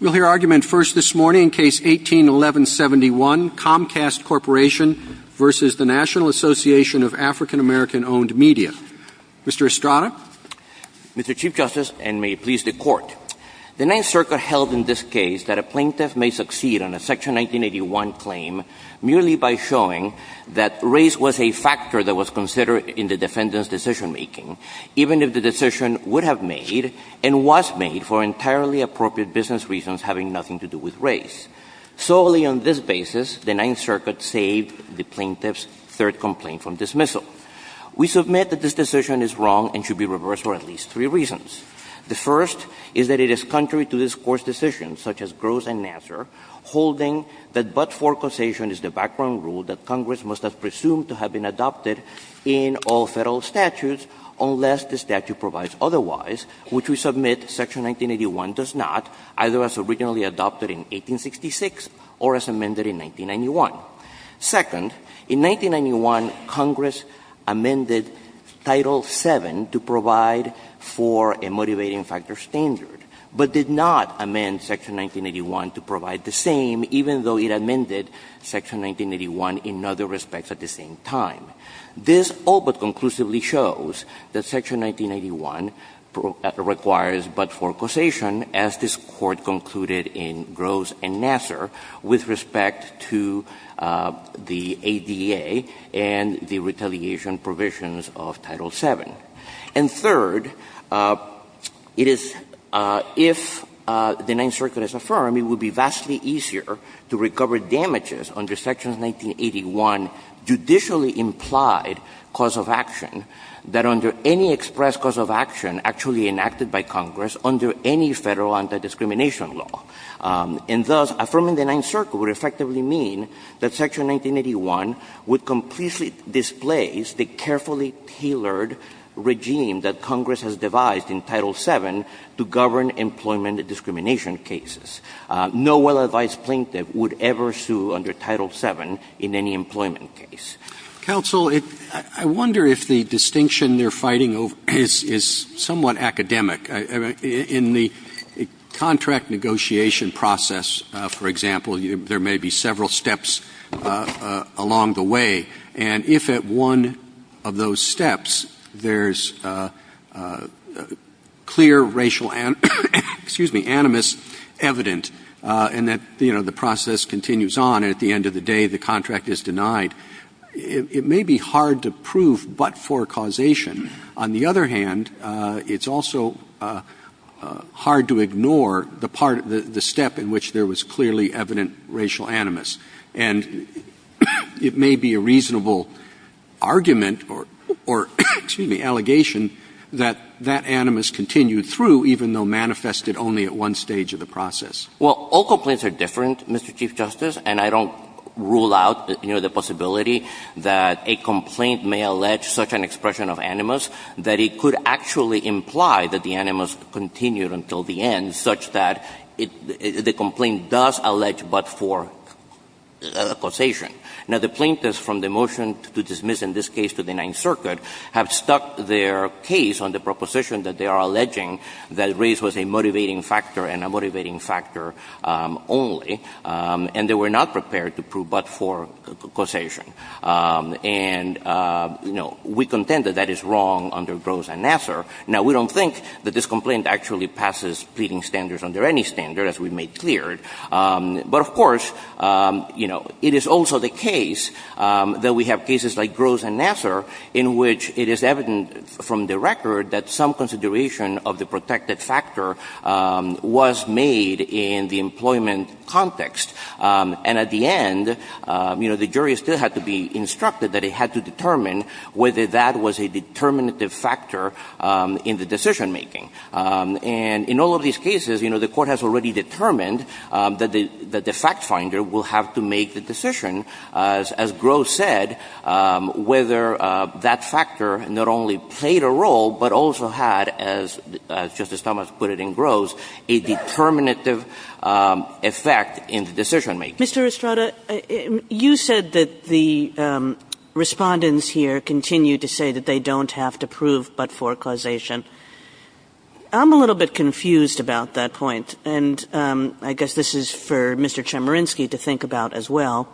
We'll hear argument first this morning in Case 18-1171, Comcast Corporation v. National Association of African American-Owned Media. Mr. Estrada? Mr. Chief Justice, and may it please the Court, the Ninth Circuit held in this case that a plaintiff may succeed on a Section 1981 claim merely by showing that race was a factor that was considered in the defendant's decision-making, even if the decision would have made and was made for entirely appropriate business reasons having nothing to do with race. Solely on this basis, the Ninth Circuit saved the plaintiff's third complaint from dismissal. We submit that this decision is wrong and should be reversed for at least three reasons. The first is that it is contrary to this Court's decision, such as Gross and Nassar, holding that but-for causation is the background rule that Congress must have presumed to have been adopted in all Federal statutes unless the statute provides otherwise, which we submit Section 1981 does not, either as originally adopted in 1866 or as amended in 1991. Second, in 1991, Congress amended Title VII to provide for a motivating factor standard, but did not amend Section 1981 to provide the same, even though it amended Section 1981 in other respects at the same time. This all but conclusively shows that Section 1991 requires but-for causation, as this Court concluded in Gross and Nassar with respect to the ADA and the retaliation provisions of Title VII. And third, it is – if the Ninth Circuit has affirmed, it would be vastly easier to recover damages under Sections 1981 judicially implied cause of action than under any express cause of action actually enacted by Congress under any Federal anti-discrimination law. And thus, affirming the Ninth Circuit would effectively mean that Section 1981 would completely displace the carefully tailored regime that Congress has devised in Title VII to govern employment discrimination cases. No well-advised plaintiff would ever sue under Title VII in any employment case. Roberts. Counsel, I wonder if the distinction they're fighting over is somewhat academic. In the contract negotiation process, for example, there may be several steps along the way. And if at one of those steps there's clear racial – excuse me – animus evident and that, you know, the process continues on, and at the end of the day the contract is denied, it may be hard to prove but-for causation. On the other hand, it's also hard to ignore the part – the step in which there was clearly evident racial animus. And it may be a reasonable argument or – excuse me – allegation that that animus continued through even though manifested only at one stage of the process. Well, all complaints are different, Mr. Chief Justice, and I don't rule out, you know, the possibility that a complaint may allege such an expression of animus that it could actually imply that the animus continued until the end such that the complaint does allege but-for causation. Now, the plaintiffs from the motion to dismiss in this case to the Ninth Circuit have stuck their case on the proposition that they are alleging that race was a motivating factor and a motivating factor only, and they were not prepared to prove but-for causation. And, you know, we contend that that is wrong under Gross and Nassar. Now, we don't think that this complaint actually passes pleading standards under any standard, as we've made clear. But, of course, you know, it is also the case that we have cases like Gross and Nassar in which it is evident from the record that some consideration of the protected factor was made in the employment context. And at the end, you know, the jury still had to be instructed that it had to determine whether that was a determinative factor in the decision-making. And in all of these cases, you know, the Court has already determined that the fact finder will have to make the decision, as Gross said, whether that factor not only played a role but also had, as Justice Thomas put it in Gross, a determinative effect in the decision-making. Kagan. Mr. Estrada, you said that the Respondents here continue to say that they don't have to prove but-for causation. I'm a little bit confused about that point, and I guess this is for Mr. Chemerinsky to think about as well.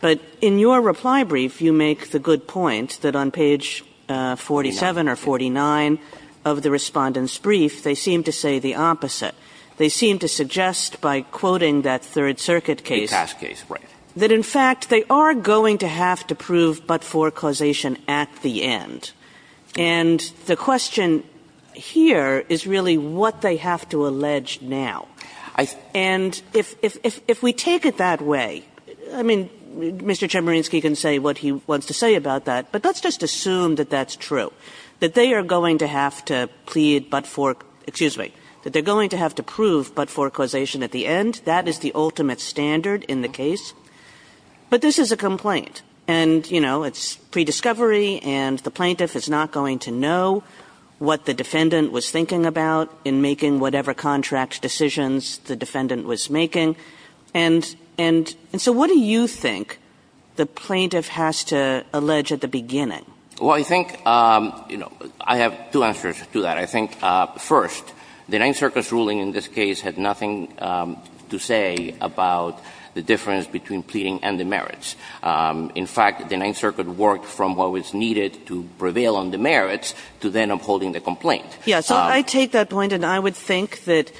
But in your reply brief, you make the good point that on page 47 or 49 of the Respondents' brief, they seem to say the opposite. They seem to suggest by quoting that Third Circuit case that, in fact, they are going to have to prove but-for causation at the end. And the question here is really what they have to allege now. And if we take it that way, I mean, Mr. Chemerinsky can say what he wants to say about that, but let's just assume that that's true, that they are going to have to plead but-for, excuse me, that they're going to have to prove but-for causation at the end. That is the ultimate standard in the case. But this is a complaint. And, you know, it's pre-discovery, and the plaintiff is not going to know what the defendant was thinking about in making whatever contract decisions the defendant was making. And so what do you think the plaintiff has to allege at the beginning? Well, I think, you know, I have two answers to that. I think, first, the Ninth Circus ruling in this case had nothing to say about the complaint. In fact, the Ninth Circuit worked from what was needed to prevail on the merits to then upholding the complaint. Yes. So I take that point, and I would think that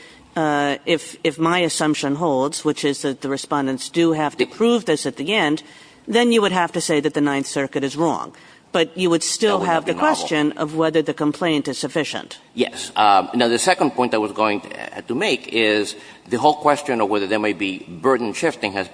if my assumption holds, which is that the respondents do have to prove this at the end, then you would have to say that the Ninth Circuit is wrong. But you would still have the question of whether the complaint is sufficient. Yes. Now, the second point I was going to make is the whole question of whether there is a position on that.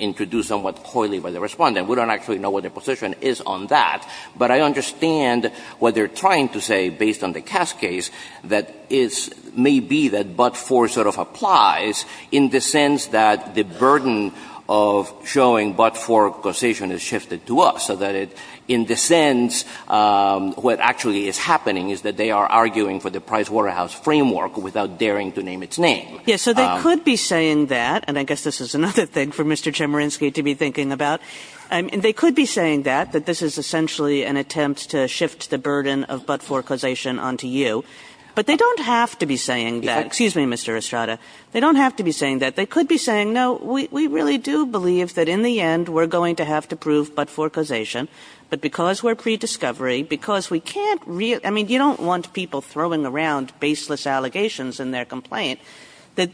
I don't actually know what the position is on that, but I understand what they're trying to say, based on the Cass case, that it may be that but-for sort of applies in the sense that the burden of showing but-for causation is shifted to us, so that it, in the sense, what actually is happening is that they are arguing for the Price Waterhouse framework without daring to name its name. Yes. So they could be saying that, and I guess this is another thing for Mr. Chemerinsky to be thinking about. I mean, they could be saying that, that this is essentially an attempt to shift the burden of but-for causation onto you. But they don't have to be saying that. Excuse me, Mr. Estrada. They don't have to be saying that. They could be saying, no, we really do believe that, in the end, we're going to have to prove but-for causation, but because we're pre-discovery, because we can't really – I mean, you don't want people throwing around baseless allegations in their complaint, that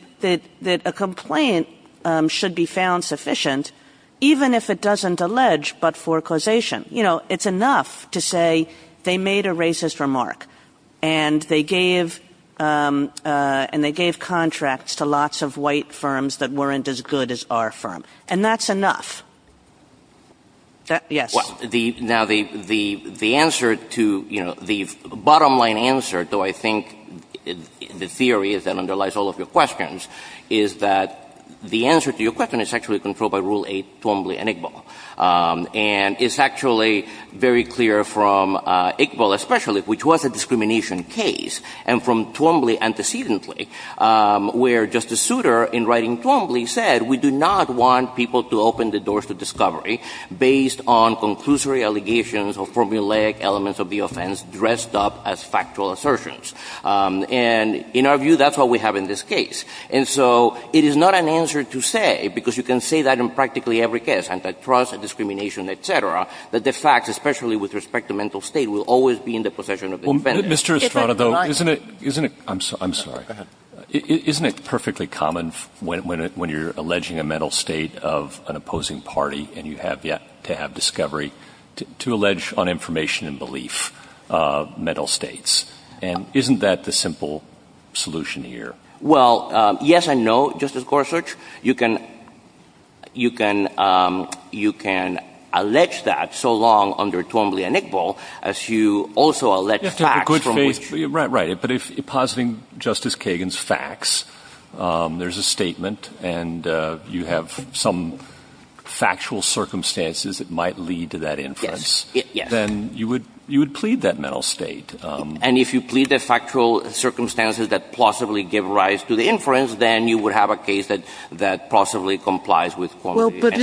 a complaint should be found sufficient even if it doesn't allege but-for causation. You know, it's enough to say they made a racist remark, and they gave – and they gave contracts to lots of white firms that weren't as good as our firm. And that's enough. Yes. Well, the – now, the answer to – you know, the bottom-line answer, though, I mean, the theory that underlies all of your questions is that the answer to your question is actually controlled by Rule 8, Twombly and Iqbal. And it's actually very clear from Iqbal especially, which was a discrimination case, and from Twombly antecedently, where Justice Souter, in writing Twombly, said, we do not want people to open the doors to discovery based on conclusory allegations or formulaic elements of the offense dressed up as factual assertions. And in our view, that's what we have in this case. And so it is not an answer to say, because you can say that in practically every case, antitrust and discrimination, et cetera, that the facts, especially with respect to mental state, will always be in the possession of the defendants. Well, Mr. Estrada, though, isn't it – isn't it – I'm sorry. Go ahead. Isn't it perfectly common when you're alleging a mental state of an opposing party, and you have yet to have discovery, to allege on information and belief mental states? And isn't that the simple solution here? Well, yes and no, Justice Gorsuch. You can – you can – you can allege that so long under Twombly and Iqbal as you also allege facts from which – You have to have a good faith – right, right. But if – positing Justice Kagan's facts, there's a statement, and you have some factual circumstances that might lead to that inference. Yes, yes. Then you would – you would plead that mental state. And if you plead the factual circumstances that possibly give rise to the inference, then you would have a case that – that possibly complies with – Well, but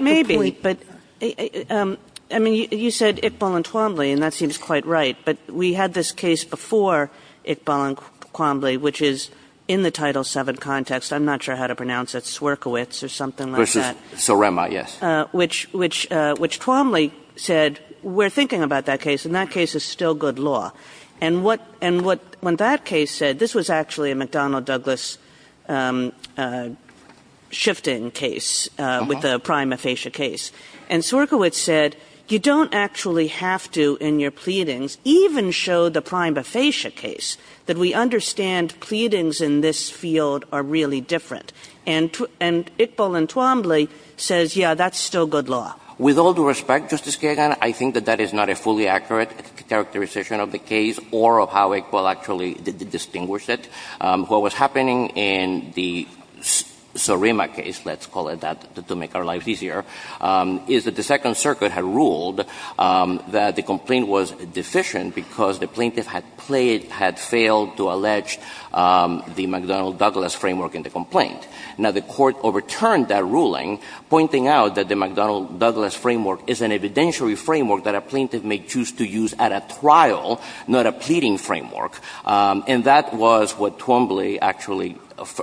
– Maybe. But – I mean, you said Iqbal and Twombly, and that seems quite right. But we had this case before Iqbal and Twombly, which is in the Title VII context. I'm not sure how to pronounce it. Swerkiewicz or something like that. Sorema, yes. Which – which – which Twombly said, we're thinking about that case, and that case is still good law. And what – and what – when that case said – this was actually a McDonnell-Douglas shifting case with the prima facie case. And Swerkiewicz said, you don't actually have to in your pleadings even show the prima facie case that we understand pleadings in this field are really different. And – and Iqbal and Twombly says, yeah, that's still good law. With all due respect, Justice Kagan, I think that that is not a fully accurate characterization of the case or of how Iqbal actually distinguished it. What was happening in the Sorema case, let's call it that to make our lives easier, is that the Second Circuit had ruled that the complaint was deficient because the plaintiff had played – had failed to allege the McDonnell-Douglas framework in the complaint. Now, the court overturned that ruling, pointing out that the McDonnell- Douglas framework is an evidentiary framework that a plaintiff may choose to use at a trial, not a pleading framework. And that was what Twombly actually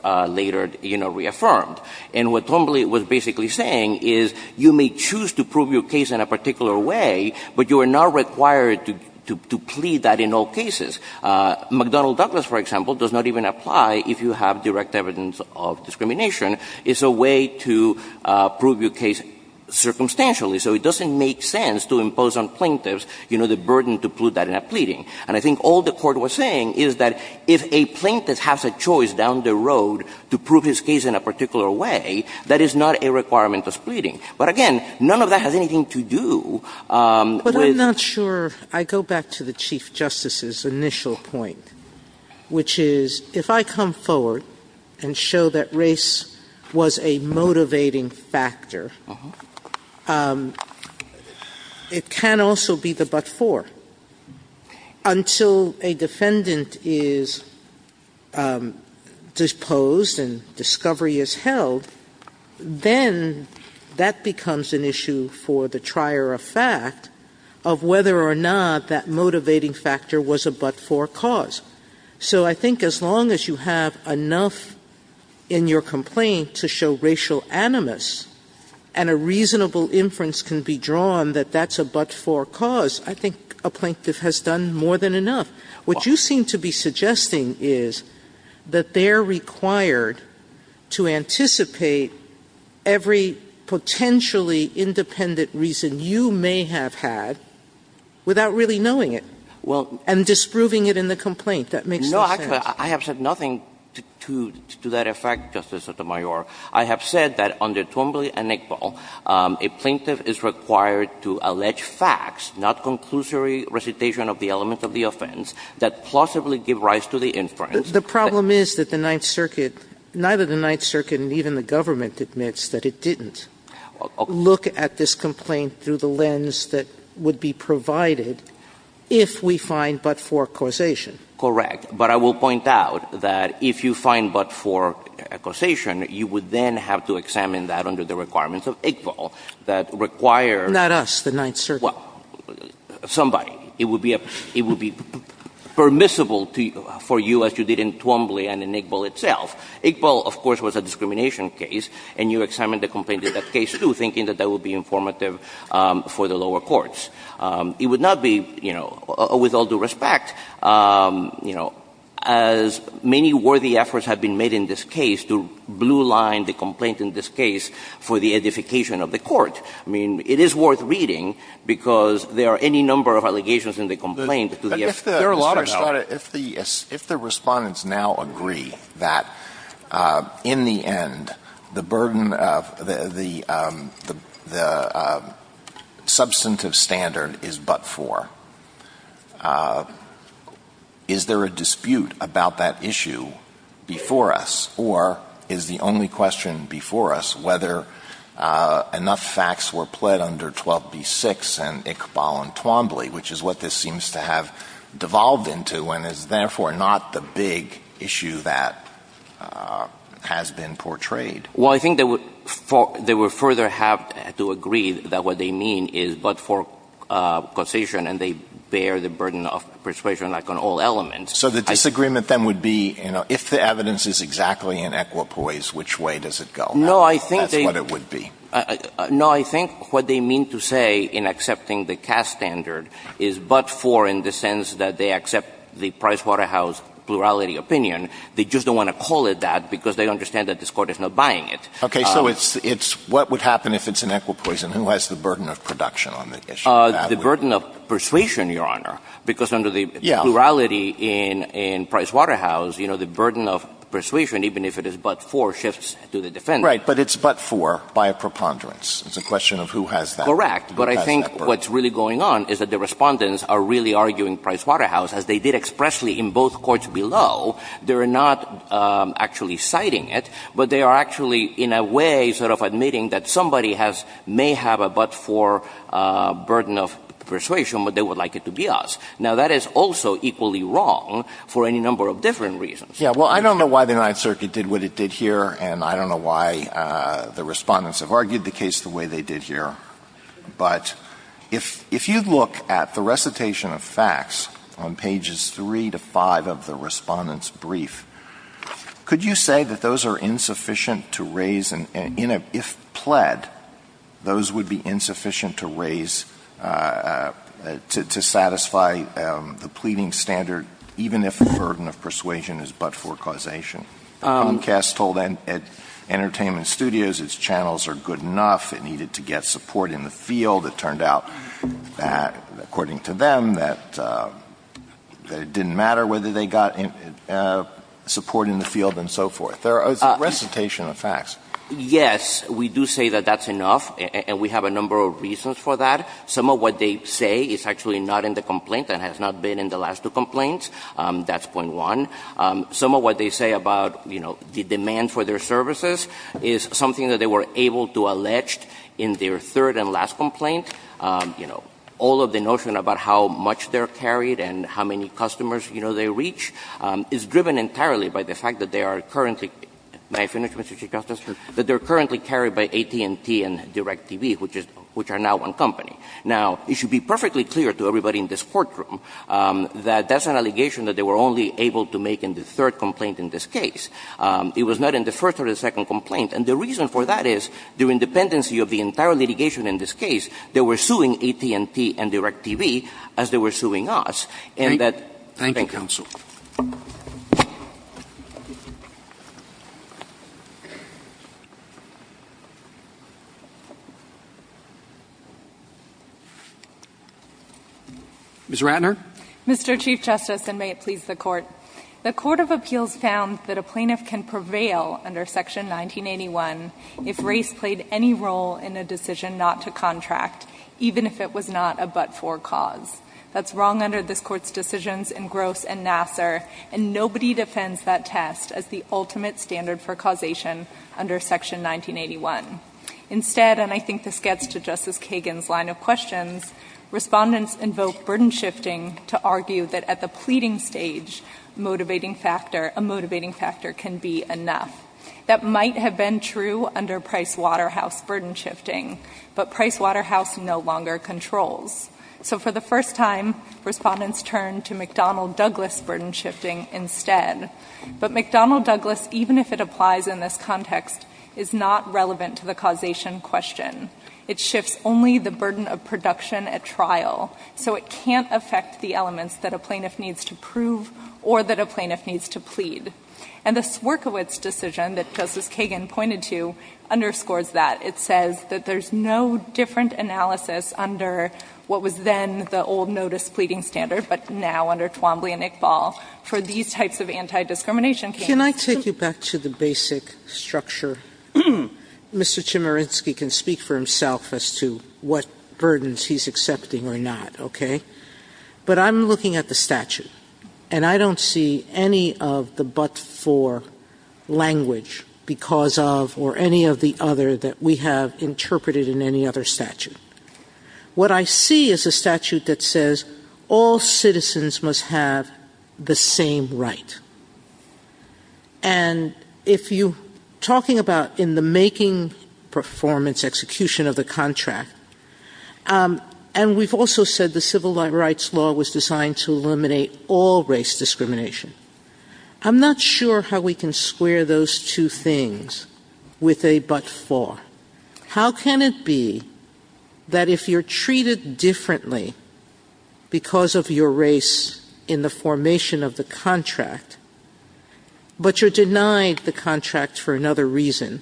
later, you know, reaffirmed. And what Twombly was basically saying is you may choose to prove your case in a particular way, but you are not required to plead that in all cases. McDonnell-Douglas, for example, does not even apply if you have direct evidence of discrimination. It's a way to prove your case circumstantially. So it doesn't make sense to impose on plaintiffs, you know, the burden to plead that in a pleading. And I think all the court was saying is that if a plaintiff has a choice down the road to prove his case in a particular way, that is not a requirement of pleading. But again, none of that has anything to do with – Sotomayor But I'm not sure – I go back to the Chief Justice's initial point, which is if I come forward and show that race was a motivating factor, it can also be the but-for. Until a defendant is disposed and discovery is held, then that becomes an issue for the trier of fact of whether or not that motivating factor was a but-for cause. So I think as long as you have enough in your complaint to show racial animus and a reasonable inference can be drawn that that's a but-for cause, I think a plaintiff has done more than enough. What you seem to be suggesting is that they're required to anticipate every potentially independent reason you may have had without really knowing it and disproving it in the complaint. That makes no sense. No, actually, I have said nothing to that effect, Justice Sotomayor. I have said that under Twombly and Nickball, a plaintiff is required to allege facts, not conclusory recitation of the elements of the offense, that plausibly give rise to the inference. The problem is that the Ninth Circuit – neither the Ninth Circuit and even the government admits that it didn't look at this complaint through the lens that would be provided if we find but-for causation. Correct. But I will point out that if you find but-for causation, you would then have to examine that under the requirements of Iqbal that require – Not us, the Ninth Circuit. Well, somebody. It would be permissible for you as you did in Twombly and in Iqbal itself. Iqbal, of course, was a discrimination case, and you examined the complaint in that case, too, thinking that that would be informative for the lower courts. It would not be, you know, with all due respect, you know, as many worthy efforts have been made in this case to blue line the complaint in this case for the edification of the court. I mean, it is worth reading because there are any number of allegations in the complaint to the effect. There are a lot of them. Your Honor, if the – if the respondents now agree that in the end, the burden of the substantive standard is but-for, is there a dispute about that issue before us, or is the only question before us whether enough facts were pled under 12b-6 and Iqbal and Twombly, which is what this seems to have devolved into and is therefore not the big issue that has been portrayed? Well, I think they would – they would further have to agree that what they mean is but-for concision, and they bear the burden of persuasion, like, on all elements. So the disagreement, then, would be, you know, if the evidence is exactly in equipoise, which way does it go? No, I think they – That's what it would be. No, I think what they mean to say in accepting the CAS standard is but-for in the sense that they accept the Pricewaterhouse plurality opinion. They just don't want to call it that because they understand that this Court is not buying it. Okay. So it's – it's what would happen if it's in equipoise, and who has the burden of production on the issue? The burden of persuasion, Your Honor, because under the plurality in Pricewaterhouse, you know, the burden of persuasion, even if it is but-for, shifts to the defense. Right. But it's but-for by a preponderance. It's a question of who has that burden. Correct. But I think what's really going on is that the Respondents are really arguing Pricewaterhouse, as they did expressly in both courts below. They're not actually citing it, but they are actually, in a way, sort of admitting that somebody has – may have a but-for burden of persuasion, but they would like it to be us. Now, that is also equally wrong for any number of different reasons. Yeah. Well, I don't know why the United Circuit did what it did here, and I don't know why the Respondents have argued the case the way they did here. But if – if you look at the recitation of facts on pages 3 to 5 of the Respondents' brief, could you say that those are insufficient to raise an – in a – if pled, those would be insufficient to raise – to satisfy the pleading standard, even if the burden of persuasion is but-for causation? Comcast told Entertainment Studios its channels are good enough. It needed to get support in the field. It turned out, according to them, that it didn't matter whether they got support in the field and so forth. There is a recitation of facts. Yes. We do say that that's enough, and we have a number of reasons for that. Some of what they say is actually not in the complaint and has not been in the last two complaints. That's point one. Some of what they say about, you know, the demand for their services is something that they were able to allege in their third and last complaint. You know, all of the notion about how much they're carried and how many customers, you know, they reach is driven entirely by the fact that they are currently – may I finish, Mr. Chief Justice? Sure. That they're currently carried by AT&T and DirecTV, which is – which are now one company. Now, it should be perfectly clear to everybody in this courtroom that that's an allegation that they were only able to make in the third complaint in this case. It was not in the first or the second complaint. And the reason for that is, due to the dependency of the entire litigation in this case, they were suing AT&T and DirecTV as they were suing us. And that – Thank you, counsel. Ms. Ratner. Mr. Chief Justice, and may it please the Court, the Court of Appeals found that a plaintiff can prevail under Section 1981 if race played any role in a decision not to contract, even if it was not a but-for cause. That's wrong under this Court's decisions in Gross and Nassar, and nobody defends that test as the ultimate standard for causation under Section 1981. Instead, and I think this gets to Justice Kagan's line of questions, respondents invoke burden shifting to argue that at the pleading stage, motivating factor – a motivating factor can be enough. That might have been true under Price Waterhouse burden shifting, but Price Waterhouse no longer controls. So for the first time, respondents turn to McDonnell-Douglas burden shifting instead. But McDonnell-Douglas, even if it applies in this context, is not relevant to the causation question. It shifts only the burden of production at trial. So it can't affect the elements that a plaintiff needs to prove or that a plaintiff needs to plead. And the Swierkiewicz decision that Justice Kagan pointed to underscores that. It says that there's no different analysis under what was then the old notice pleading standard, but now under Twombly and Iqbal for these types of anti-discrimination cases. Sotomayor Can I take you back to the basic structure? Mr. Chemerinsky can speak for himself as to what burdens he's accepting or not, okay? But I'm looking at the statute, and I don't see any of the but-for language because of or any of the other that we have interpreted in any other statute. What I see is a statute that says all citizens must have the same right. And if you're talking about in the making performance execution of the contract, and we've also said the civil rights law was designed to eliminate all race discrimination. I'm not sure how we can square those two things with a but-for. How can it be that if you're treated differently because of your race in the formation of the contract, but you're denied the contract for another reason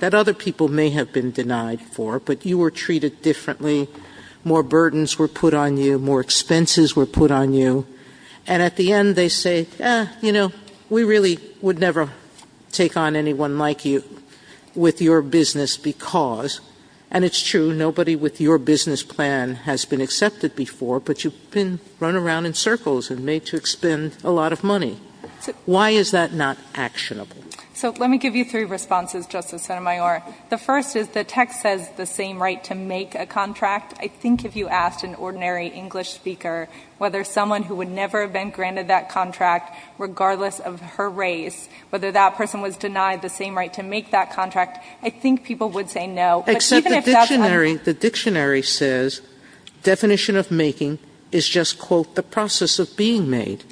that other people may have been denied for, but you were treated differently, more burdens were put on you, more expenses were put on you, and at the end they say, you know, we really would never take on anyone like you with your business because, and it's true, nobody with your business plan has been accepted before, but you've been run around in circles and made to expend a lot of money. Why is that not actionable? So let me give you three responses, Justice Sotomayor. The first is the text says the same right to make a contract. I think if you asked an ordinary English speaker whether someone who would never have been granted that contract regardless of her race, whether that person was black or white, I think people would say no. But even if that's unfair. The dictionary says definition of making is just, quote, the process of being made.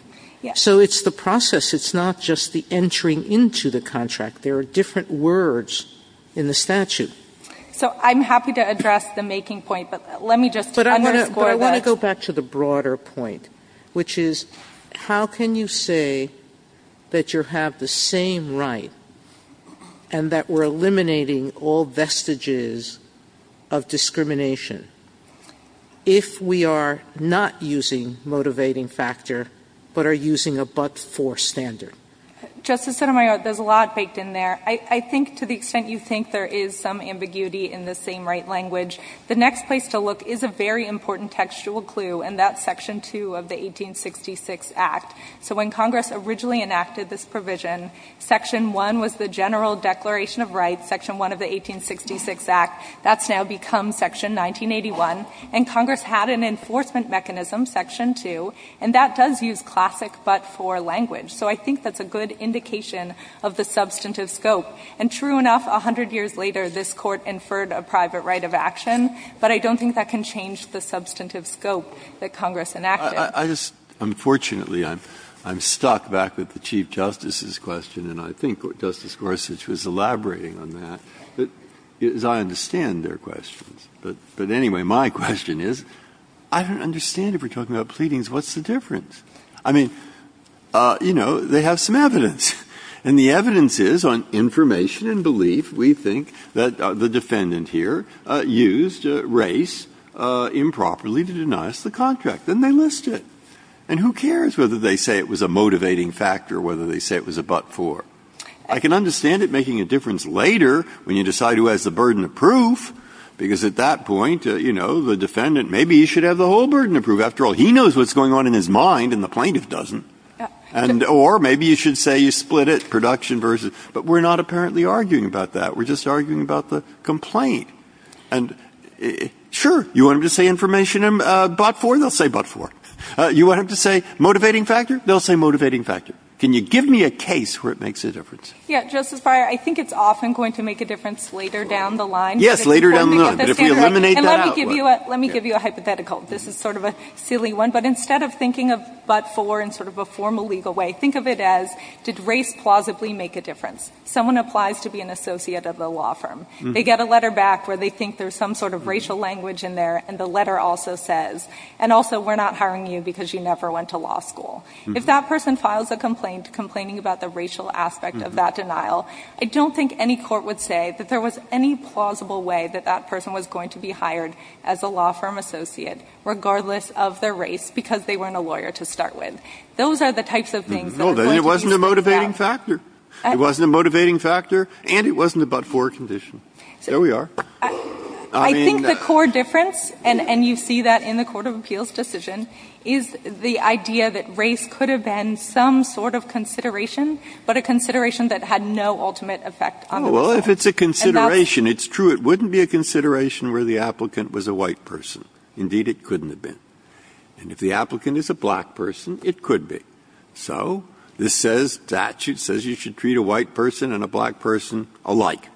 Yes. So it's the process. It's not just the entering into the contract. There are different words in the statute. So I'm happy to address the making point, but let me just underscore that. But I want to go back to the broader point, which is how can you say that you have the same right and that we're eliminating all vestiges of discrimination if we are not using motivating factor but are using a but-for standard? Justice Sotomayor, there's a lot baked in there. I think to the extent you think there is some ambiguity in the same right language, the next place to look is a very important textual clue, and that's Section 2 of the 1866 Act. So when Congress originally enacted this provision, Section 1 was the General Declaration of Rights, Section 1 of the 1866 Act. That's now become Section 1981. And Congress had an enforcement mechanism, Section 2, and that does use classic but-for language. So I think that's a good indication of the substantive scope. And true enough, 100 years later, this Court inferred a private right of action, but I don't think that can change the substantive scope that Congress enacted. Unfortunately, I'm stuck back with the Chief Justice's question, and I think Justice Gorsuch was elaborating on that, as I understand their questions. But anyway, my question is, I don't understand if we're talking about pleadings. What's the difference? I mean, you know, they have some evidence. And the evidence is on information and belief. We think that the defendant here used race improperly to deny us the contract. Then they list it. And who cares whether they say it was a motivating factor or whether they say it was a but-for. I can understand it making a difference later when you decide who has the burden of proof, because at that point, you know, the defendant, maybe he should have the whole burden of proof. After all, he knows what's going on in his mind, and the plaintiff doesn't. Or maybe you should say you split it, production versus. But we're not apparently arguing about that. We're just arguing about the complaint. And sure, you want him to say information and but-for, they'll say but-for. You want him to say motivating factor, they'll say motivating factor. Can you give me a case where it makes a difference? Yeah, Justice Breyer, I think it's often going to make a difference later down the line. Yes, later down the line. But if we eliminate that out. And let me give you a hypothetical. This is sort of a silly one. But instead of thinking of but-for in sort of a formal legal way, think of it as did race plausibly make a difference? Someone applies to be an associate of the law firm. They get a letter back where they think there's some sort of racial language in there. And the letter also says, and also, we're not hiring you because you never went to law school. If that person files a complaint complaining about the racial aspect of that denial, I don't think any court would say that there was any plausible way that that person was going to be hired as a law firm associate, regardless of their race, because they weren't a lawyer to start with. Those are the types of things that the plaintiffs said. Well, then it wasn't a motivating factor. It wasn't a motivating factor. And it wasn't a but-for condition. There we are. I mean. I think the core difference, and you see that in the Court of Appeals decision, is the idea that race could have been some sort of consideration, but a consideration that had no ultimate effect on the law. Well, if it's a consideration, it's true. It wouldn't be a consideration where the applicant was a white person. Indeed, it couldn't have been. And if the applicant is a black person, it could be. So the statute says you should treat a white person and a black person alike.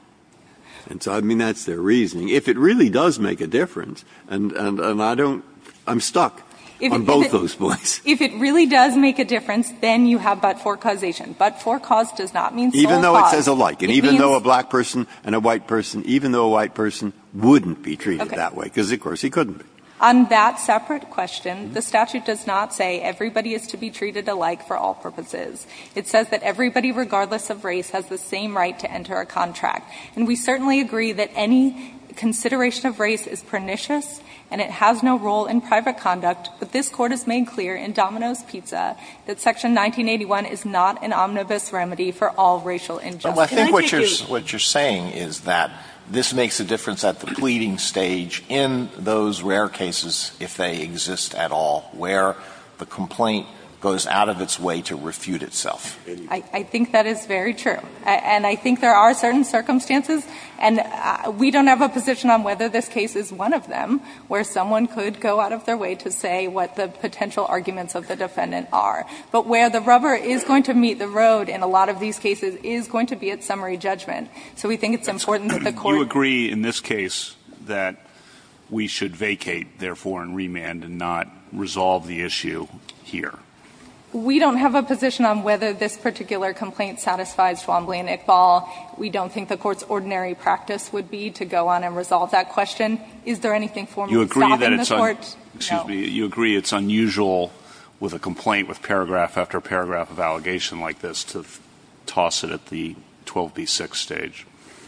And so, I mean, that's their reasoning. If it really does make a difference, and I don't – I'm stuck on both those points. If it really does make a difference, then you have but-for causation. But-for cause does not mean sole cause. Even though it says alike. It means. And even though a black person and a white person, even though a white person wouldn't be treated that way, because of course he couldn't be. On that separate question, the statute does not say everybody is to be treated alike for all purposes. It says that everybody, regardless of race, has the same right to enter a contract. And we certainly agree that any consideration of race is pernicious, and it has no role in private conduct, but this Court has made clear in Domino's Pizza that Section 1981 is not an omnibus remedy for all racial injustices. Alito, can I take your question? What you're saying is that this makes a difference at the pleading stage in those rare cases, if they exist at all, where the complaint goes out of its way to refute itself. I think that is very true. And I think there are certain circumstances, and we don't have a position on whether this case is one of them, where someone could go out of their way to say what the potential arguments of the defendant are. But where the rubber is going to meet the road in a lot of these cases is going to be at summary judgment. So we think it's important that the Court- We don't have a position on whether this particular complaint satisfies Schwambley and Iqbal. We don't think the Court's ordinary practice would be to go on and resolve that question. Is there anything formal stopping the Court? You agree that it's unusual with a complaint with paragraph after paragraph of allegation like this to toss it at the 12B6 stage?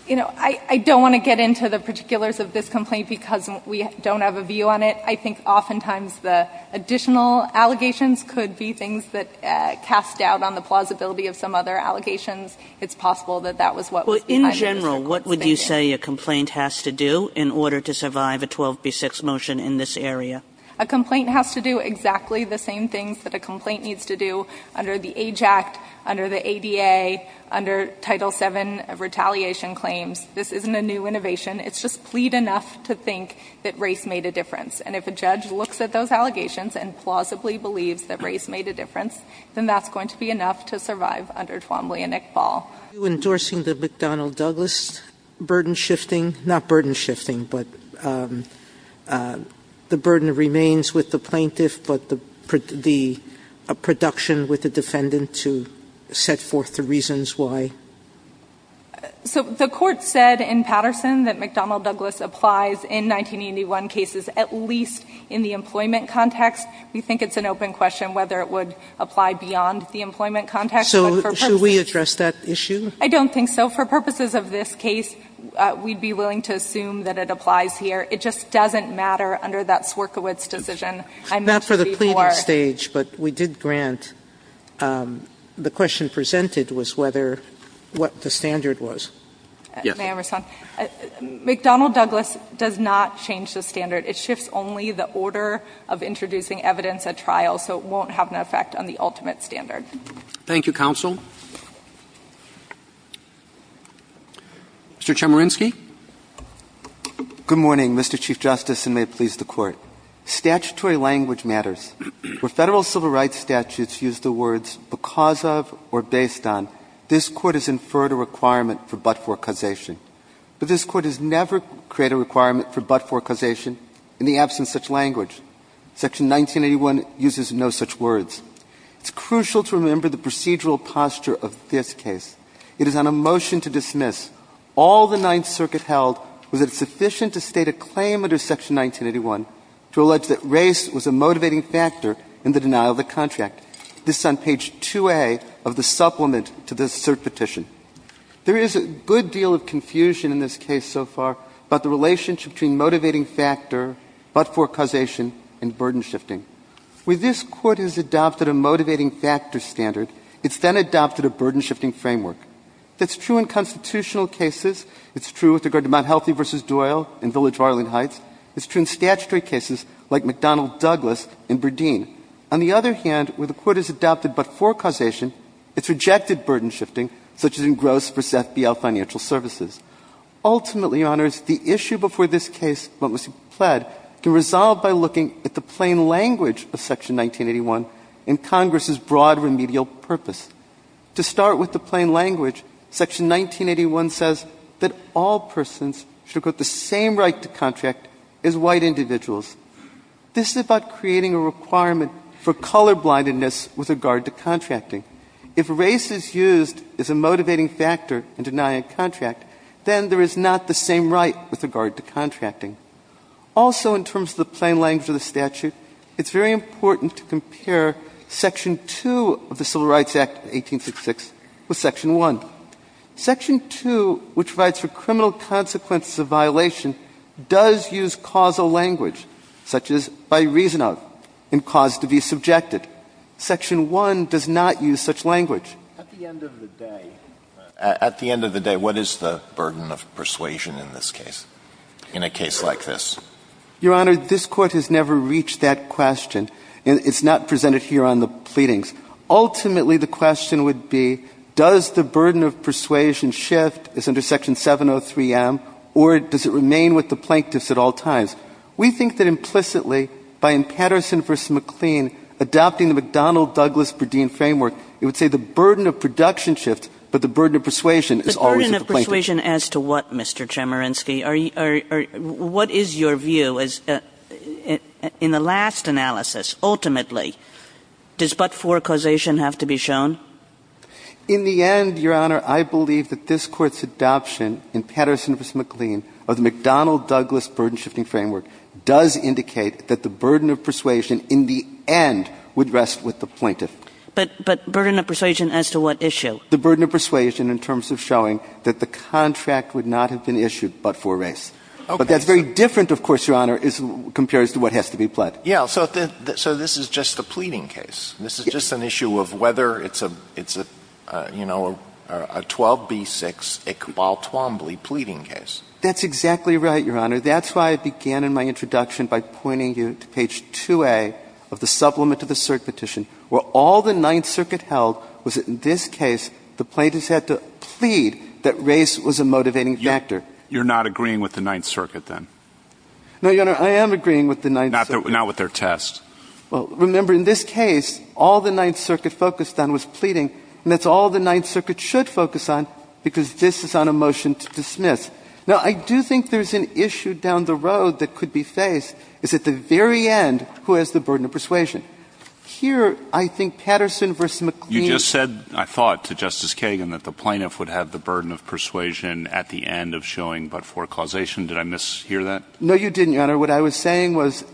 You know, I don't want to get into the particulars of this complaint because we and Iqbal. We don't have a view on it. I think oftentimes the additional allegations could be things that cast doubt on the plausibility of some other allegations. It's possible that that was what was behind those circumstances. Well, in general, what would you say a complaint has to do in order to survive a 12B6 motion in this area? A complaint has to do exactly the same things that a complaint needs to do under the Age Act, under the ADA, under Title VII retaliation claims. This isn't a new innovation. It's just plead enough to think that race made a difference. And if a judge looks at those allegations and plausibly believes that race made a difference, then that's going to be enough to survive under 12B6 Iqbal. Are you endorsing the McDonnell-Douglas burden shifting? Not burden shifting, but the burden remains with the plaintiff, but the production with the defendant to set forth the reasons why? So the court said in Patterson that McDonnell-Douglas applies in 1981 cases at least in the employment context. We think it's an open question whether it would apply beyond the employment context. So should we address that issue? I don't think so. For purposes of this case, we'd be willing to assume that it applies here. It just doesn't matter under that Swierkiewicz decision. Not for the pleading stage, but we did grant. The question presented was whether what the standard was. Yes. May I respond? McDonnell-Douglas does not change the standard. It shifts only the order of introducing evidence at trial, so it won't have an effect on the ultimate standard. Thank you, counsel. Mr. Chemerinsky. Good morning, Mr. Chief Justice, and may it please the Court. Statutory language matters. Where Federal civil rights statutes use the words because of or based on, this Court has inferred a requirement for but-for causation. But this Court has never created a requirement for but-for causation in the absence of such language. Section 1981 uses no such words. It's crucial to remember the procedural posture of this case. It is on a motion to dismiss. All the Ninth Circuit held was that it's sufficient to state a claim under Section 1981 to allege that race was a motivating factor in the denial of the contract. This is on page 2A of the supplement to this cert petition. There is a good deal of confusion in this case so far about the relationship between motivating factor, but-for causation, and burden shifting. Where this Court has adopted a motivating factor standard, it's then adopted a burden shifting framework. That's true in constitutional cases. It's true with regard to Mt. Healthy v. Doyle and Village of Arlington Heights. It's true in statutory cases like McDonnell Douglas and Burdeen. On the other hand, where the Court has adopted but-for causation, it's rejected burden shifting, such as in Gross v. FBL Financial Services. Ultimately, Your Honors, the issue before this case, what was pled, can resolve by looking at the plain language of Section 1981 and Congress's broad remedial purpose. To start with the plain language, Section 1981 says that all persons should have the same right to contract as white individuals. This is about creating a requirement for colorblindness with regard to contracting. If race is used as a motivating factor in denying a contract, then there is not the same right with regard to contracting. Also, in terms of the plain language of the statute, it's very important to look at Section 1. Section 2, which provides for criminal consequences of violation, does use causal language, such as by reason of and cause to be subjected. Section 1 does not use such language. At the end of the day, what is the burden of persuasion in this case, in a case like this? Your Honor, this Court has never reached that question. It's not presented here on the pleadings. Ultimately, the question would be, does the burden of persuasion shift, as under Section 703M, or does it remain with the plaintiffs at all times? We think that implicitly, by in Patterson v. McLean, adopting the McDonnell Douglas-Bredin framework, it would say the burden of production shifts, but the burden of persuasion is always with the plaintiffs. Kagan. The burden of persuasion as to what, Mr. Chemerinsky? What is your view? In the last analysis, ultimately, does but-for causation have to be shown? In the end, Your Honor, I believe that this Court's adoption in Patterson v. McLean of the McDonnell Douglas-Bredin shifting framework does indicate that the burden of persuasion in the end would rest with the plaintiff. But burden of persuasion as to what issue? The burden of persuasion in terms of showing that the contract would not have been issued but for race. Okay. But that's very different, of course, Your Honor, compared to what has to be pled. Yes. So this is just a pleading case. Yes. This is just an issue of whether it's a, you know, a 12B6 Iqbal Twombly pleading case. That's exactly right, Your Honor. That's why I began in my introduction by pointing you to page 2A of the supplement to the cert petition, where all the Ninth Circuit held was that in this case the plaintiffs had to plead that race was a motivating factor. You're not agreeing with the Ninth Circuit, then? No, Your Honor. I am agreeing with the Ninth Circuit. Not with their test. Well, remember, in this case, all the Ninth Circuit focused on was pleading. And that's all the Ninth Circuit should focus on, because this is on a motion to dismiss. Now, I do think there's an issue down the road that could be faced, is at the very end, who has the burden of persuasion. Here, I think Patterson v. McLean. You just said, I thought to Justice Kagan, that the plaintiff would have the burden of persuasion at the end of showing but for causation. Did I mishear that? No, you didn't, Your Honor. What I was saying was,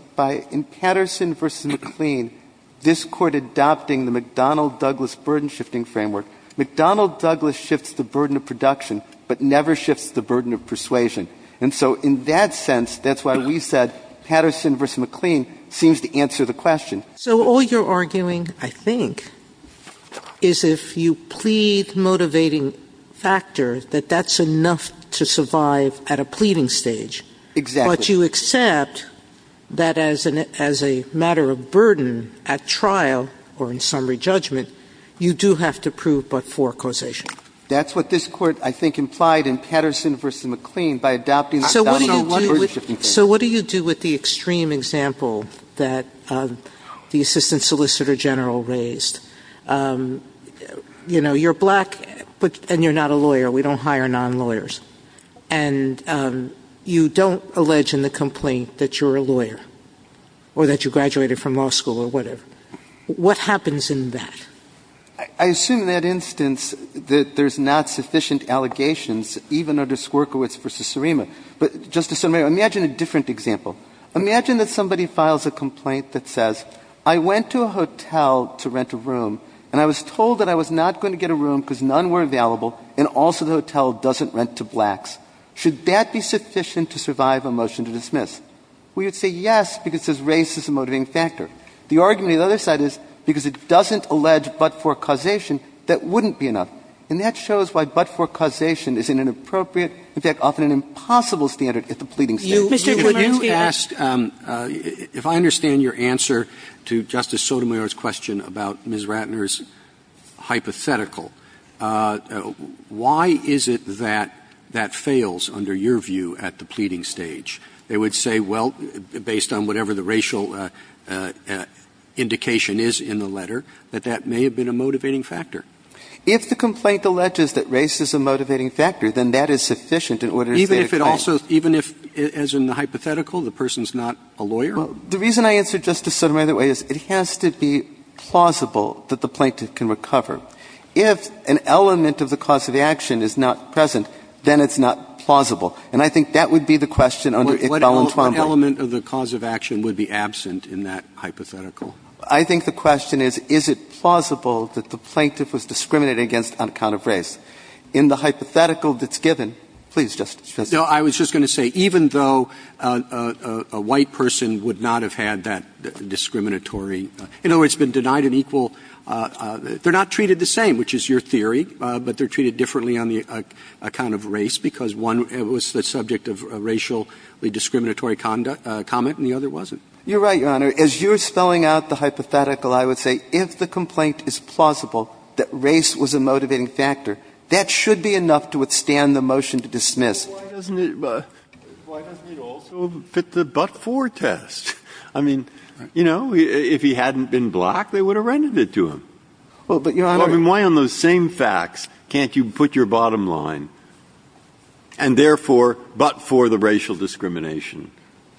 in Patterson v. McLean, this Court adopting the McDonnell Douglas burden-shifting framework, McDonnell Douglas shifts the burden of production but never shifts the burden of persuasion. And so in that sense, that's why we said Patterson v. McLean seems to answer the question. So all you're arguing, I think, is if you plead motivating factor, that that's enough to survive at a pleading stage. Exactly. But you accept that as a matter of burden at trial or in summary judgment, you do have to prove but for causation. That's what this Court, I think, implied in Patterson v. McLean by adopting the McDonnell Douglas burden-shifting framework. So what do you do with the extreme example that the Assistant Solicitor General raised? You know, you're black and you're not a lawyer. We don't hire non-lawyers. And you don't allege in the complaint that you're a lawyer or that you graduated from law school or whatever. What happens in that? I assume in that instance that there's not sufficient allegations even under I'm going to give you a different example. Imagine that somebody files a complaint that says, I went to a hotel to rent a room and I was told that I was not going to get a room because none were available and also the hotel doesn't rent to blacks. Should that be sufficient to survive a motion to dismiss? We would say yes, because there's racism motivating factor. The argument on the other side is because it doesn't allege but for causation, that wouldn't be enough. And that shows why but for causation isn't an appropriate, in fact, often an impossible standard at the pleading stage. If I understand your answer to Justice Sotomayor's question about Ms. Ratner's hypothetical, why is it that that fails under your view at the pleading stage? They would say, well, based on whatever the racial indication is in the letter, that that may have been a motivating factor. If the complaint alleges that race is a motivating factor, then that is sufficient in order to say it fails. Even if it also, even if, as in the hypothetical, the person's not a lawyer? The reason I answered Justice Sotomayor that way is it has to be plausible that the plaintiff can recover. If an element of the cause of action is not present, then it's not plausible. And I think that would be the question under Iqbal and Twombly. What element of the cause of action would be absent in that hypothetical? I think the question is, is it plausible that the plaintiff was discriminated against on account of race? In the hypothetical that's given, please, Justice Ginsburg. No, I was just going to say, even though a white person would not have had that discriminatory, in other words, been denied an equal, they're not treated the same, which is your theory, but they're treated differently on the account of race because one was the subject of a racially discriminatory comment and the other wasn't. You're right, Your Honor. As you're spelling out the hypothetical, I would say if the complaint is plausible that race was a motivating factor, that should be enough to withstand the motion to dismiss. Why doesn't it also fit the but-for test? I mean, you know, if he hadn't been black, they would have rendered it to him. Well, but, Your Honor. I mean, why on those same facts can't you put your bottom line? And therefore, but for the racial discrimination.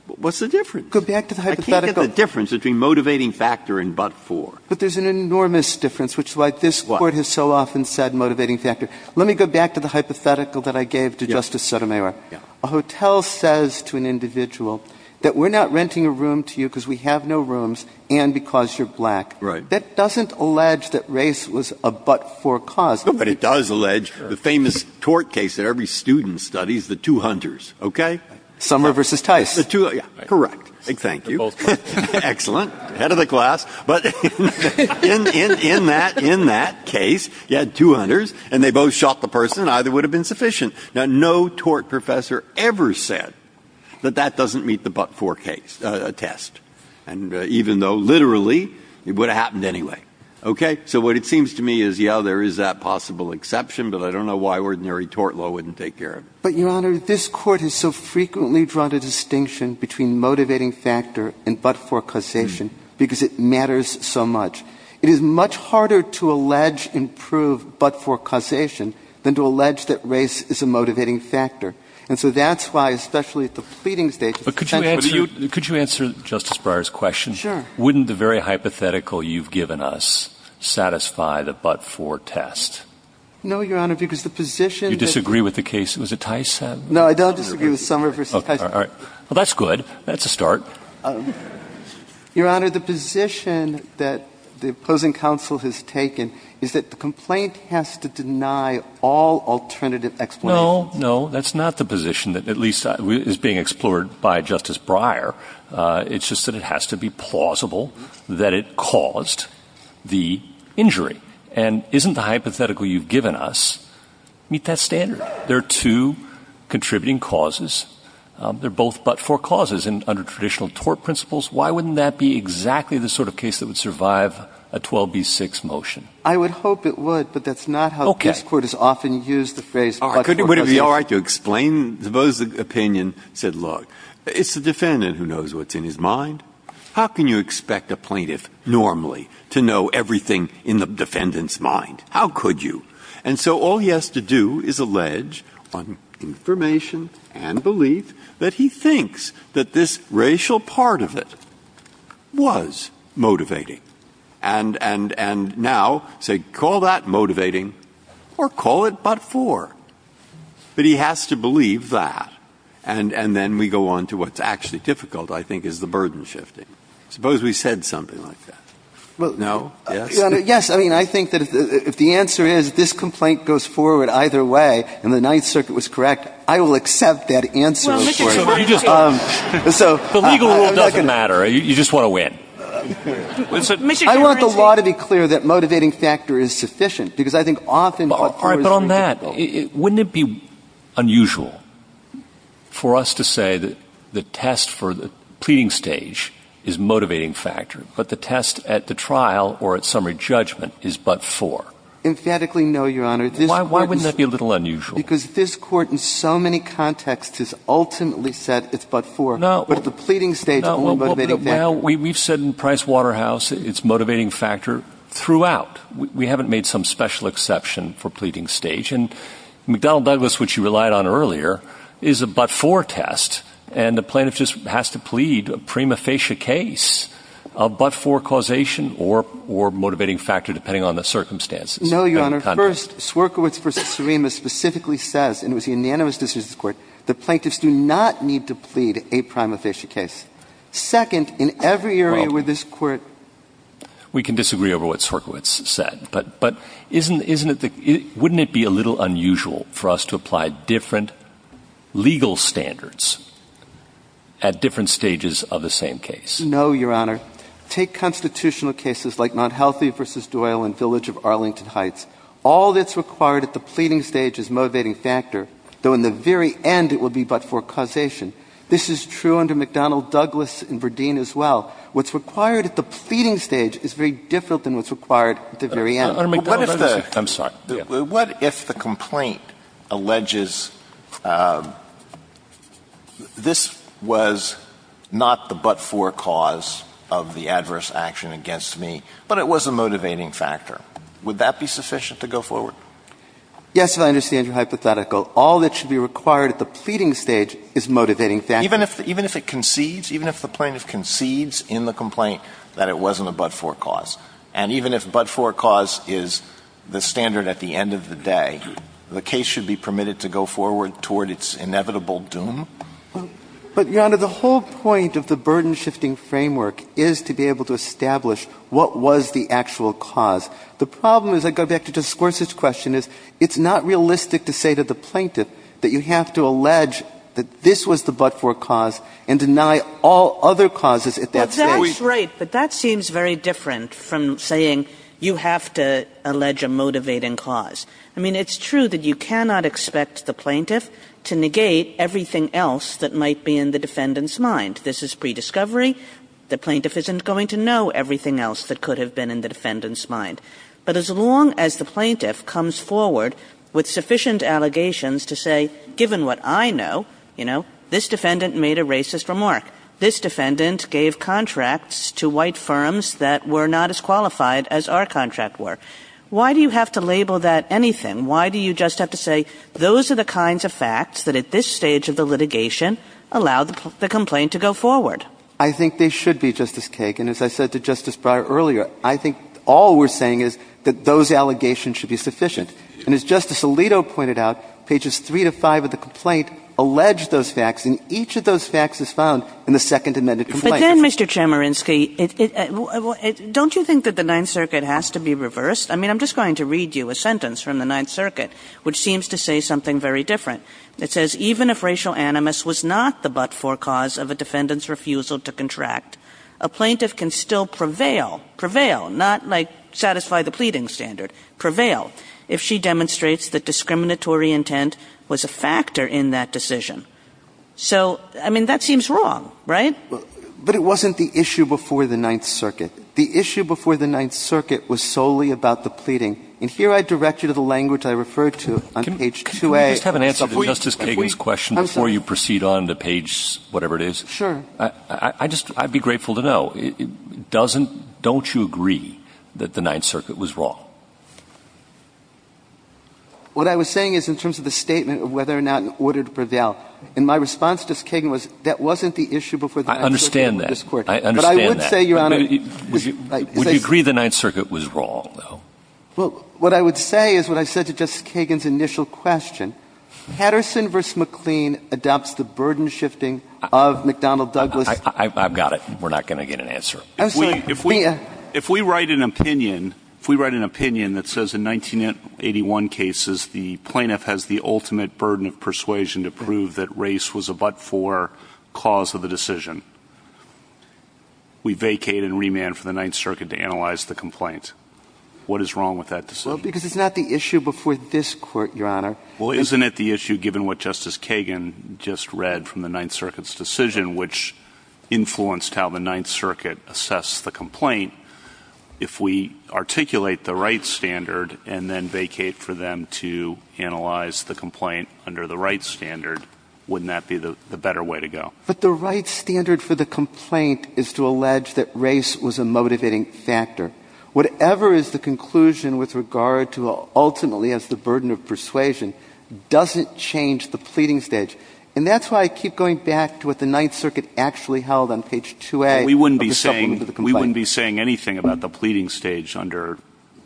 What's the difference? Go back to the hypothetical. I can't get the difference between motivating factor and but-for. But there's an enormous difference, which is why this Court has so often said motivating factor. Let me go back to the hypothetical that I gave to Justice Sotomayor. Yeah. A hotel says to an individual that we're not renting a room to you because we have no rooms and because you're black. Right. That doesn't allege that race was a but-for cause. But it does allege the famous tort case that every student studies, the two hunters, okay? Summer versus Tice. The two, yeah, correct. Thank you. Excellent. Head of the class. But in that case, you had two hunters and they both shot the person and either would have been sufficient. Now, no tort professor ever said that that doesn't meet the but-for test. And even though, literally, it would have happened anyway. Okay? So what it seems to me is, yeah, there is that possible exception. But I don't know why ordinary tort law wouldn't take care of it. But, Your Honor, this Court has so frequently drawn a distinction between motivating factor and but-for causation because it matters so much. It is much harder to allege improved but-for causation than to allege that race is a motivating factor. And so that's why, especially at the pleading stage, it's essential. But could you answer Justice Breyer's question? Sure. Wouldn't the very hypothetical you've given us satisfy the but-for test? No, Your Honor, because the position that You disagree with the case? Was it Tice? No, I don't disagree with Summer v. Tice. Well, that's good. That's a start. Your Honor, the position that the opposing counsel has taken is that the complaint has to deny all alternative explanations. No, no. That's not the position that at least is being explored by Justice Breyer. It's just that it has to be plausible that it caused the injury. And isn't the hypothetical you've given us meet that standard? There are two contributing causes. They're both but-for causes. And under traditional tort principles, why wouldn't that be exactly the sort of case that would survive a 12b-6 motion? I would hope it would, but that's not how this Court has often used the phrase but-for causes. Would it be all right to explain? Suppose the opinion said, look, it's the defendant who knows what's in his mind. How can you expect a plaintiff normally to know everything in the defendant's mind? How could you? And so all he has to do is allege on information and belief that he thinks that this racial part of it was motivating. And now say, call that motivating or call it but-for. But he has to believe that. And then we go on to what's actually difficult, I think, is the burden shifting. Suppose we said something like that. No? Yes? Yes. I mean, I think that if the answer is this complaint goes forward either way and the Ninth Circuit was correct, I will accept that answer. The legal rule doesn't matter. You just want to win. I want the law to be clear that motivating factor is sufficient because I think often but-for is very difficult. But on that, wouldn't it be unusual for us to say that the test for the pleading stage is motivating factor, but the test at the trial or at summary judgment is but-for? Emphatically no, Your Honor. Why wouldn't that be a little unusual? Because this Court in so many contexts has ultimately said it's but-for. No. But at the pleading stage, only motivating factor. No. Well, we've said in Price Waterhouse it's motivating factor throughout. We haven't made some special exception for pleading stage. And McDonnell Douglas, which you relied on earlier, is a but-for test. And the plaintiff just has to plead a prima facie case, a but-for causation or motivating factor depending on the circumstances. No, Your Honor. First, Swerkiewicz v. Serema specifically says, and it was unanimous decision of this Court, that plaintiffs do not need to plead a prima facie case. Second, in every area where this Court We can disagree over what Swerkiewicz said, but wouldn't it be a little unusual for us to apply different legal standards at different stages of the same case? No, Your Honor. Take constitutional cases like Monthealthy v. Doyle in Village of Arlington Heights. All that's required at the pleading stage is motivating factor, though in the very end it would be but-for causation. This is true under McDonnell Douglas in Verdeen as well. What's required at the pleading stage is very different than what's required at the very end. I'm sorry. What if the complaint alleges this was not the but-for cause of the adverse action against me, but it was a motivating factor? Would that be sufficient to go forward? Yes, and I understand your hypothetical. All that should be required at the pleading stage is motivating factor. Even if it concedes, even if the plaintiff concedes in the complaint that it wasn't a but-for cause. And even if but-for cause is the standard at the end of the day, the case should be permitted to go forward toward its inevitable doom. But, Your Honor, the whole point of the burden-shifting framework is to be able to establish what was the actual cause. The problem is, I go back to Justice Gorsuch's question, is it's not realistic to say to the plaintiff that you have to allege that this was the but-for cause and deny all other causes at that stage. That's right. But that seems very different from saying you have to allege a motivating cause. I mean, it's true that you cannot expect the plaintiff to negate everything else that might be in the defendant's mind. This is prediscovery. The plaintiff isn't going to know everything else that could have been in the defendant's mind. But as long as the plaintiff comes forward with sufficient allegations to say, given what I know, you know, this defendant made a racist remark, this defendant gave contracts to white firms that were not as qualified as our contract were. Why do you have to label that anything? Why do you just have to say, those are the kinds of facts that at this stage of the litigation allow the complaint to go forward? I think they should be, Justice Kagan. As I said to Justice Breyer earlier, I think all we're saying is that those allegations should be sufficient. And as Justice Alito pointed out, pages 3 to 5 of the complaint allege those facts as found in the second amended complaint. But then, Mr. Chemerinsky, don't you think that the Ninth Circuit has to be reversed? I mean, I'm just going to read you a sentence from the Ninth Circuit which seems to say something very different. It says, even if racial animus was not the but-for cause of a defendant's refusal to contract, a plaintiff can still prevail, prevail, not, like, satisfy the pleading standard, prevail, if she demonstrates that discriminatory intent was a factor in that decision. So, I mean, that seems wrong, right? But it wasn't the issue before the Ninth Circuit. The issue before the Ninth Circuit was solely about the pleading. And here I direct you to the language I referred to on page 2A. Can we just have an answer to Justice Kagan's question before you proceed on to page whatever it is? Sure. I just, I'd be grateful to know. It doesn't, don't you agree that the Ninth Circuit was wrong? What I was saying is in terms of the statement of whether or not an order to prevail in my response to Justice Kagan was that wasn't the issue before the Ninth Circuit of this Court. I understand that. I understand that. But I would say, Your Honor. Would you agree the Ninth Circuit was wrong, though? Well, what I would say is what I said to Justice Kagan's initial question. Patterson v. McLean adopts the burden shifting of McDonnell Douglas. I've got it. We're not going to get an answer. Absolutely. If we write an opinion, if we write an opinion that says in 1981 cases the plaintiff has the ultimate burden of persuasion to prove that race was a but-for cause of the decision, we vacate and remand for the Ninth Circuit to analyze the complaint. What is wrong with that decision? Well, because it's not the issue before this Court, Your Honor. Well, isn't it the issue given what Justice Kagan just read from the Ninth Circuit's decision which influenced how the Ninth Circuit assessed the complaint, if we articulate the right standard and then vacate for them to analyze the complaint under the right standard, wouldn't that be the better way to go? But the right standard for the complaint is to allege that race was a motivating factor. Whatever is the conclusion with regard to ultimately as the burden of persuasion doesn't change the pleading stage. And that's why I keep going back to what the Ninth Circuit actually held on page 2A. We wouldn't be saying anything about the pleading stage under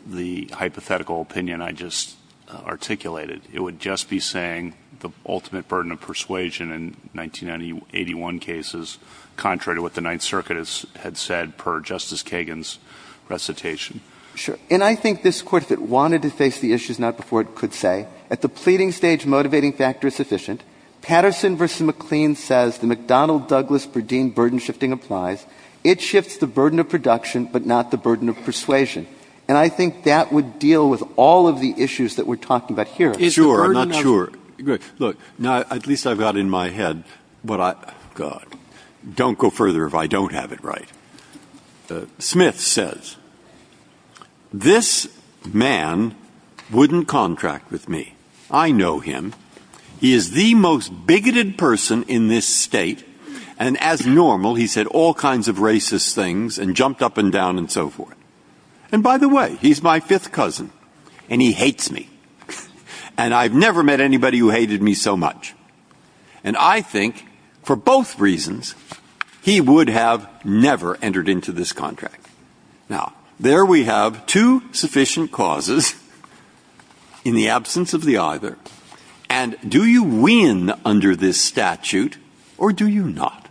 the hypothetical opinion I just articulated. It would just be saying the ultimate burden of persuasion in 1981 cases, contrary to what the Ninth Circuit had said per Justice Kagan's recitation. Sure. And I think this Court, if it wanted to face the issues now before it could say that the pleading stage motivating factor is sufficient, Patterson v. McLean says the McDonnell-Douglas-Burdine burden shifting applies. It shifts the burden of production but not the burden of persuasion. And I think that would deal with all of the issues that we're talking about here. Sure. I'm not sure. Good. Look, now at least I've got in my head what I, God, don't go further if I don't have it right. Smith says, Now, this man wouldn't contract with me. I know him. He is the most bigoted person in this state. And as normal, he's said all kinds of racist things and jumped up and down and so forth. And by the way, he's my fifth cousin. And he hates me. And I've never met anybody who hated me so much. And I think, for both reasons, he would have never entered into this contract. Now, there we have two sufficient causes in the absence of the either. And do you win under this statute or do you not?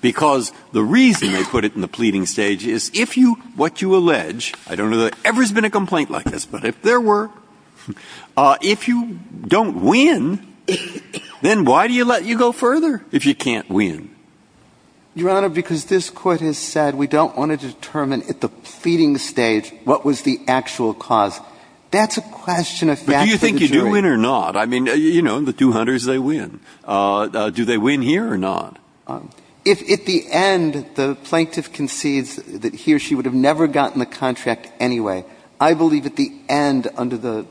Because the reason they put it in the pleading stage is if you, what you allege, I don't know that there's ever been a complaint like this, but if there were, if you don't win, then why do you let you go further if you can't win? Your Honor, because this Court has said we don't want to determine at the pleading stage what was the actual cause. That's a question of fact for the jury. But do you think you do win or not? I mean, you know, the two hunters, they win. Do they win here or not? If at the end, the plaintiff concedes that he or she would have never gotten the contract anyway, I believe at the end, under the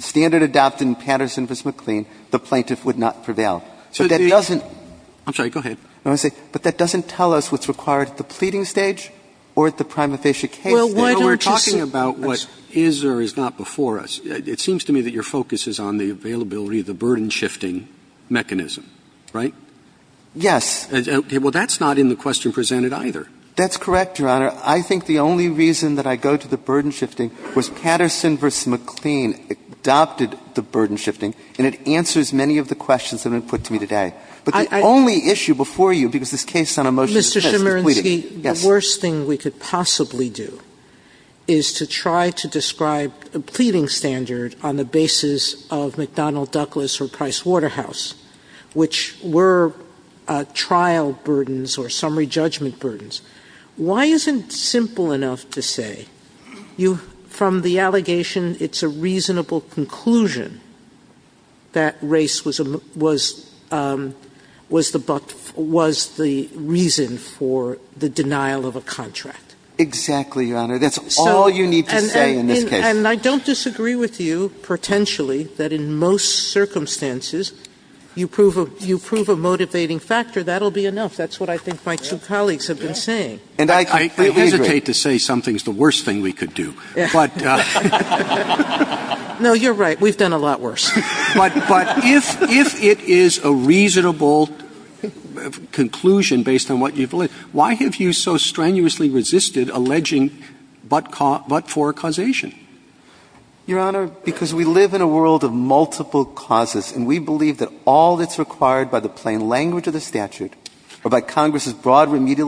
standard adopted in Patterson v. McLean, the plaintiff would not prevail. I'm sorry. Go ahead. But that doesn't tell us what's required at the pleading stage or at the prima facie case. We're talking about what is or is not before us. It seems to me that your focus is on the availability of the burden shifting mechanism, right? Yes. Well, that's not in the question presented either. That's correct, Your Honor. I think the only reason that I go to the burden shifting was Patterson v. McLean adopted the burden shifting. And it answers many of the questions that have been put to me today. But the only issue before you, because this case is on a motion to dispense, is pleading. Mr. Chemerinsky, the worst thing we could possibly do is to try to describe a pleading standard on the basis of McDonnell-Douglas or Price-Waterhouse, which were trial burdens or summary judgment burdens. Why isn't it simple enough to say? You, from the allegation, it's a reasonable conclusion that race was the reason for the denial of a contract. Exactly, Your Honor. That's all you need to say in this case. And I don't disagree with you, potentially, that in most circumstances, you prove a motivating factor. That'll be enough. That's what I think my two colleagues have been saying. I hesitate to say something's the worst thing we could do. No, you're right. We've done a lot worse. But if it is a reasonable conclusion based on what you've alleged, why have you so strenuously resisted alleging but-for causation? Your Honor, because we live in a world of multiple causes. And we believe that all that's required by the plain language of the statute or by the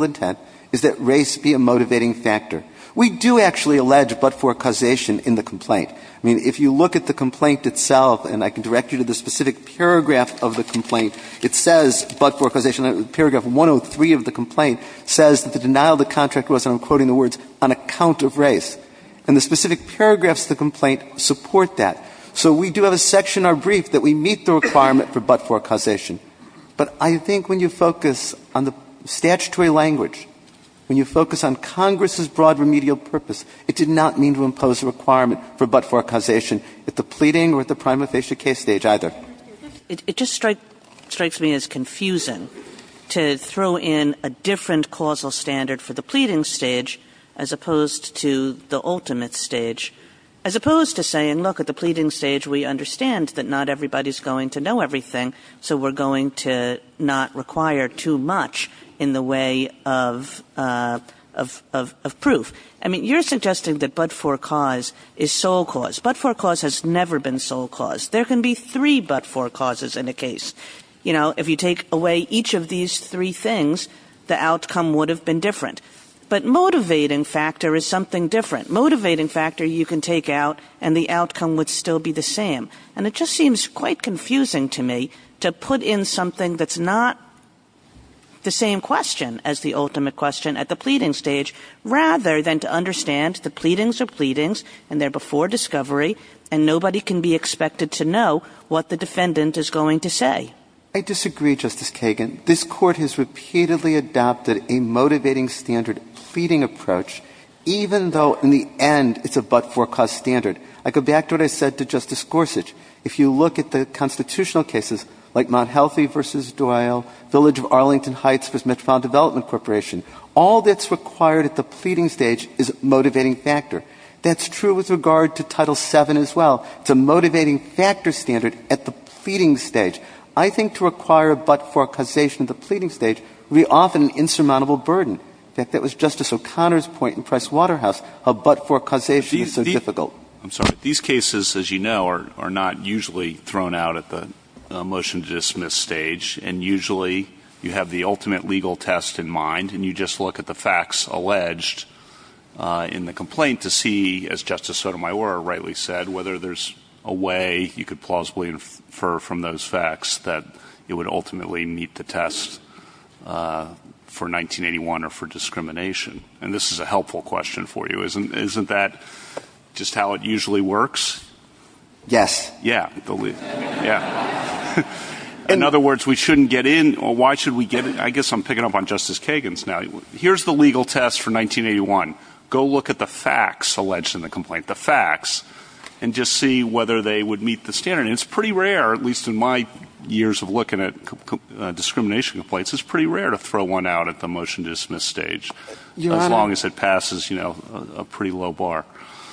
statute is that race be a motivating factor. We do actually allege but-for causation in the complaint. I mean, if you look at the complaint itself, and I can direct you to the specific paragraph of the complaint, it says but-for causation. Paragraph 103 of the complaint says that the denial of the contract was, and I'm quoting the words, on account of race. And the specific paragraphs of the complaint support that. So we do have a section in our brief that we meet the requirement for but-for causation. But I think when you focus on the statutory language, when you focus on Congress's broad remedial purpose, it did not mean to impose a requirement for but-for causation at the pleading or at the prima facie case stage either. It just strikes me as confusing to throw in a different causal standard for the pleading stage as opposed to the ultimate stage, as opposed to saying, look, at the pleading stage we understand that not everybody's going to know everything, so we're going to not require too much in the way of proof. I mean, you're suggesting that but-for cause is sole cause. But-for cause has never been sole cause. There can be three but-for causes in a case. You know, if you take away each of these three things, the outcome would have been different. But motivating factor is something different. Motivating factor you can take out and the outcome would still be the same. And it just seems quite confusing to me to put in something that's not the same question as the ultimate question at the pleading stage rather than to understand the pleadings are pleadings and they're before discovery and nobody can be expected to know what the defendant is going to say. I disagree, Justice Kagan. This Court has repeatedly adopted a motivating standard pleading approach even though in the end it's a but-for cause standard. I go back to what I said to Justice Gorsuch. If you look at the constitutional cases like Mount Healthy v. Doyle, Village of Arlington Heights v. Metropolitan Development Corporation, all that's required at the pleading stage is a motivating factor. That's true with regard to Title VII as well. It's a motivating factor standard at the pleading stage. I think to require a but-for causation at the pleading stage would be often an insurmountable burden. In fact, that was Justice O'Connor's point in Pricewaterhouse how but-for causation is so difficult. These cases, as you know, are not usually thrown out at the motion to dismiss stage and usually you have the ultimate legal test in mind and you just look at the facts alleged in the complaint to see, as Justice Sotomayor rightly said, whether there's a way you could plausibly infer from those facts that it would ultimately meet the test for 1981 or for discrimination. This is a helpful question for you. Isn't that just how it usually works? Yes. Yeah. Yeah. In other words, we shouldn't get in or why should we get in? I guess I'm picking up on Justice Kagan's now. Here's the legal test for 1981. Go look at the facts alleged in the complaint, the facts, and just see whether they would meet the standard. It's pretty rare, at least in my years of looking at discrimination complaints, it's pretty rare to throw one out at the motion to dismiss stage as long as it passes a pretty low bar.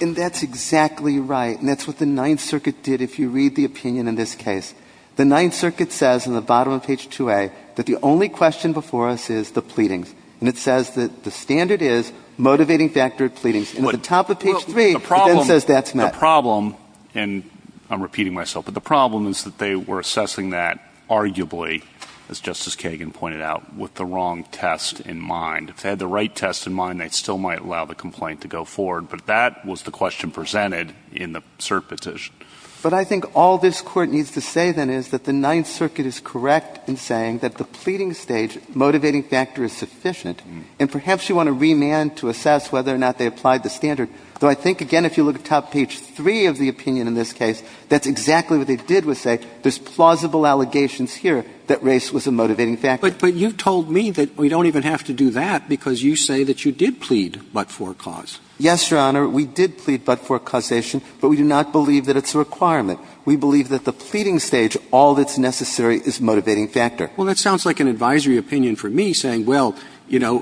And that's exactly right and that's what the Ninth Circuit did if you read the opinion in this case. The Ninth Circuit says in the bottom of page 2A that the only question before us is the pleadings and it says that the standard is motivating factor of pleadings and at the top of page 3 it then says that's met. The problem, and I'm repeating myself, but the problem is that they were assessing that arguably, as Justice Kagan pointed out, with the wrong test in mind. If they had the right test in mind, they still might allow the complaint to go forward, but that was the question presented in the cert petition. But I think all this Court needs to say then is that the Ninth Circuit is correct in saying that the pleading stage motivating factor is sufficient and perhaps you want to remand to assess whether or not they applied the standard, though I think, again, if you look at top page 3 of the opinion in this case, that's exactly what they did was say there's plausible allegations here that race was a motivating factor. But you told me that we don't even have to do that because you say that you did plead but-for cause. Yes, Your Honor. We did plead but-for causation, but we do not believe that it's a requirement. We believe that the pleading stage, all that's necessary, is a motivating factor. Well, that sounds like an advisory opinion for me saying, well, you know,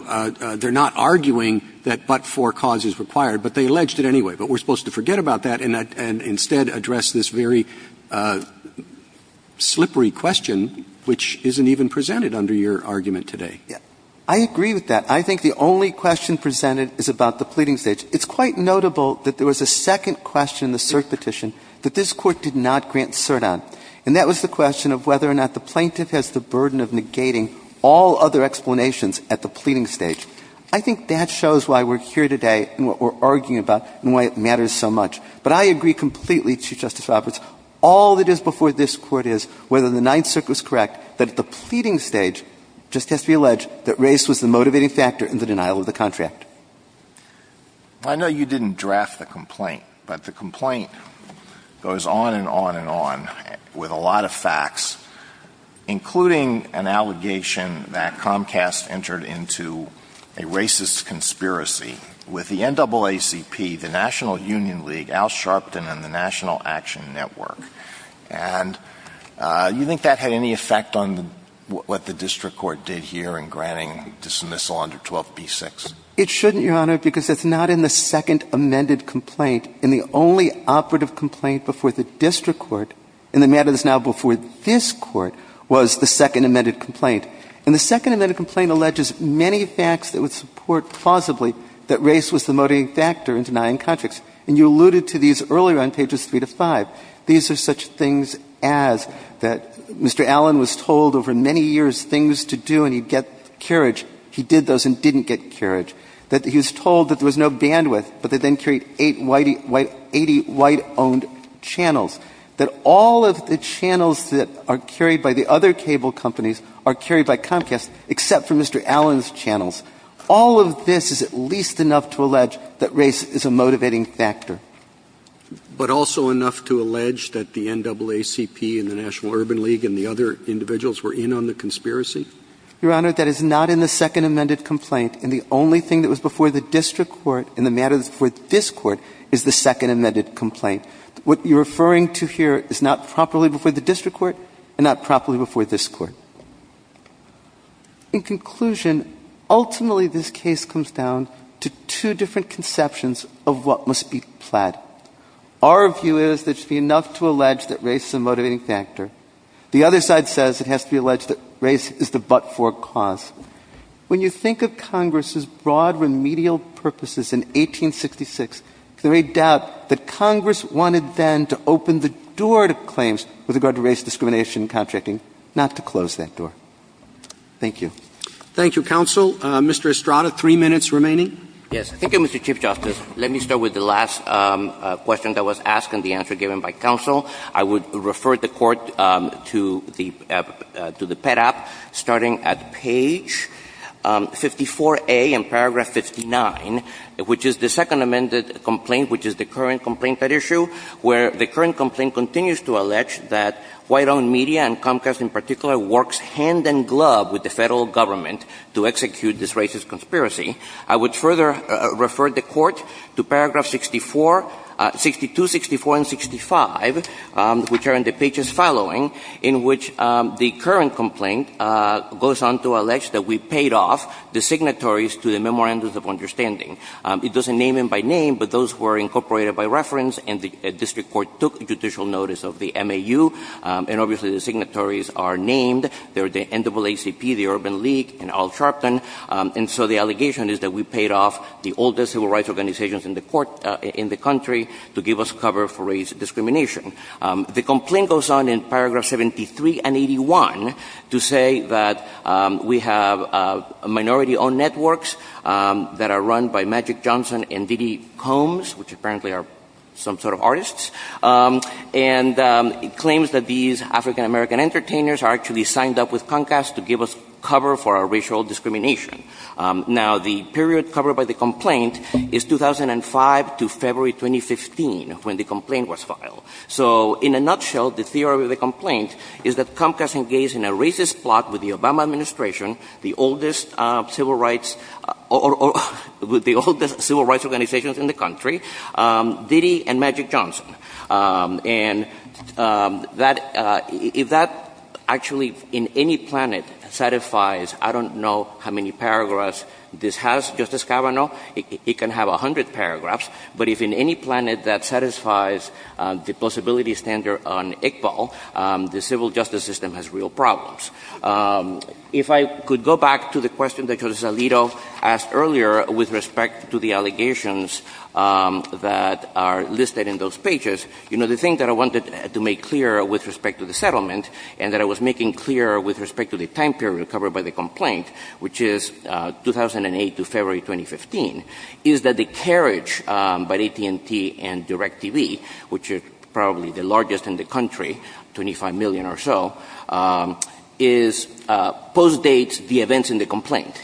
they're not arguing that but-for cause is required, but they alleged it anyway, but we're supposed to forget about that and instead address this very slippery question which isn't even presented under your argument today. I agree with that. I think the only question presented is about the pleading stage. It's quite notable that there was a second question in the cert petition that this Court did not grant cert on, and that was the question of whether or not the plaintiff has the burden of negating all other explanations at the pleading stage. I think that shows why we're here today and what we're arguing about and why it matters so much. But I agree completely, Chief Justice Roberts, all that is before this Court is whether the Ninth Circuit was correct that at the pleading stage, it just has to be alleged that race was the motivating factor in the denial of the contract. I know you didn't draft the complaint, but the complaint goes on and on and on with a lot of facts, including an allegation that Comcast entered into a racist conspiracy with the NAACP, the National Union League, Al Sharpton and the National Action Network. And you think that had any effect on what the district court did here in granting dismissal under 12b-6? It shouldn't, Your Honor, because it's not in the second amended complaint. And the only operative complaint before the district court in the matters now before this Court was the second amended complaint. And the second amended complaint alleges many facts that would support plausibly that race was the motivating factor in denying contracts. And you alluded to these earlier on pages 3 to 5. These are such things as that Mr. Allen was told over many years things to do and he'd get carriage. He did those and didn't get carriage. That he was told that there was no bandwidth, but they then carried 80 white-owned channels. That all of the channels that are carried by the other cable companies are carried by Comcast, except for Mr. Allen's channels. All of this is at least enough to allege that race is a motivating factor. But also enough to allege that the NAACP and the National Urban League and the other individuals were in on the conspiracy? Your Honor, that is not in the second amended complaint. And the only thing that was before the district court in the matters before this Court is the second amended complaint. What you're referring to here is not properly before the district court and not properly before this Court. In conclusion, ultimately this case comes down to two different conceptions of what must be plaid. Our view is there should be enough to allege that race is a motivating factor. The other side says it has to be alleged that race is the but-for cause. When you think of Congress's broad remedial purposes in 1866, there is no doubt that Congress wanted then to open the door to claims with regard to race discrimination and contracting, not to close that door. Thank you. Thank you, Counsel. Mr. Estrada, three minutes remaining. Yes. Thank you, Mr. Chief Justice. Let me start with the last question that was asked and the answer given by Counsel. I would refer the Court to the PEDAP starting at page 54A in paragraph 59, which is the second amended complaint, which is the current complaint at issue, where the current complaint continues to allege that white-owned media and Comcast in particular works hand-in-glove with the Federal Government to execute this racist conspiracy. I would further refer the Court to paragraphs 64, 62, 64, and 65, which are in the pages following, in which the current complaint goes on to allege that we paid off the signatories to the Memorandums of Understanding. It doesn't name them by name, but those were incorporated by reference and the district court took judicial notice of the MAU, and obviously the signatories are named. They're the NAACP, the Urban League, and Al Sharpton. And so the allegation is that we paid off the oldest civil rights organizations in the country to give us cover for racial discrimination. The complaint goes on in paragraph 73 and 81 to say that we have minority-owned networks that are run by Magic Johnson and Diddy Combs, which apparently are some sort of artists, and it claims that these African-American entertainers actually signed up with Comcast to give us cover for our racial discrimination. Now, the period covered by the complaint is 2005 to February 2015, when the complaint was filed. So, in a nutshell, the theory of the complaint is that Comcast engaged in a racist plot with the Obama Administration, the oldest civil rights organizations in the country, Diddy and Magic Johnson. And if that actually in any planet satisfies, I don't know how many paragraphs this has, Justice Kavanaugh, it can have a hundred paragraphs. But if in any planet that satisfies the plausibility standard on ICPOL, the civil justice system has real problems. If I could go back to the question that Justice Alito asked earlier with respect to the allegations that are listed in those pages, you know, the thing that I wanted to make clear with respect to the settlement and that I was making clear with respect to the time period covered by the complaint, which is 2008 to February 2015, is that the carriage by AT&T and DirecTV, which are probably the largest in the country, 25 million or so, is post-dates the events in the complaint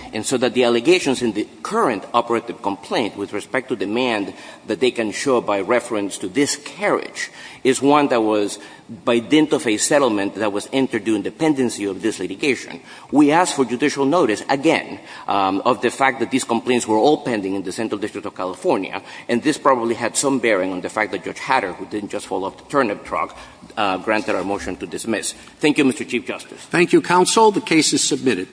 with respect to demand that they can show by reference to this carriage is one that was by dint of a settlement that was entered due in dependency of this litigation. We ask for judicial notice, again, of the fact that these complaints were all pending in the Central District of California. And this probably had some bearing on the fact that Judge Hatter, who didn't just follow up the turnip truck, granted our motion to dismiss. Thank you, Mr. Chief Justice. Thank you, Counsel. The case is submitted.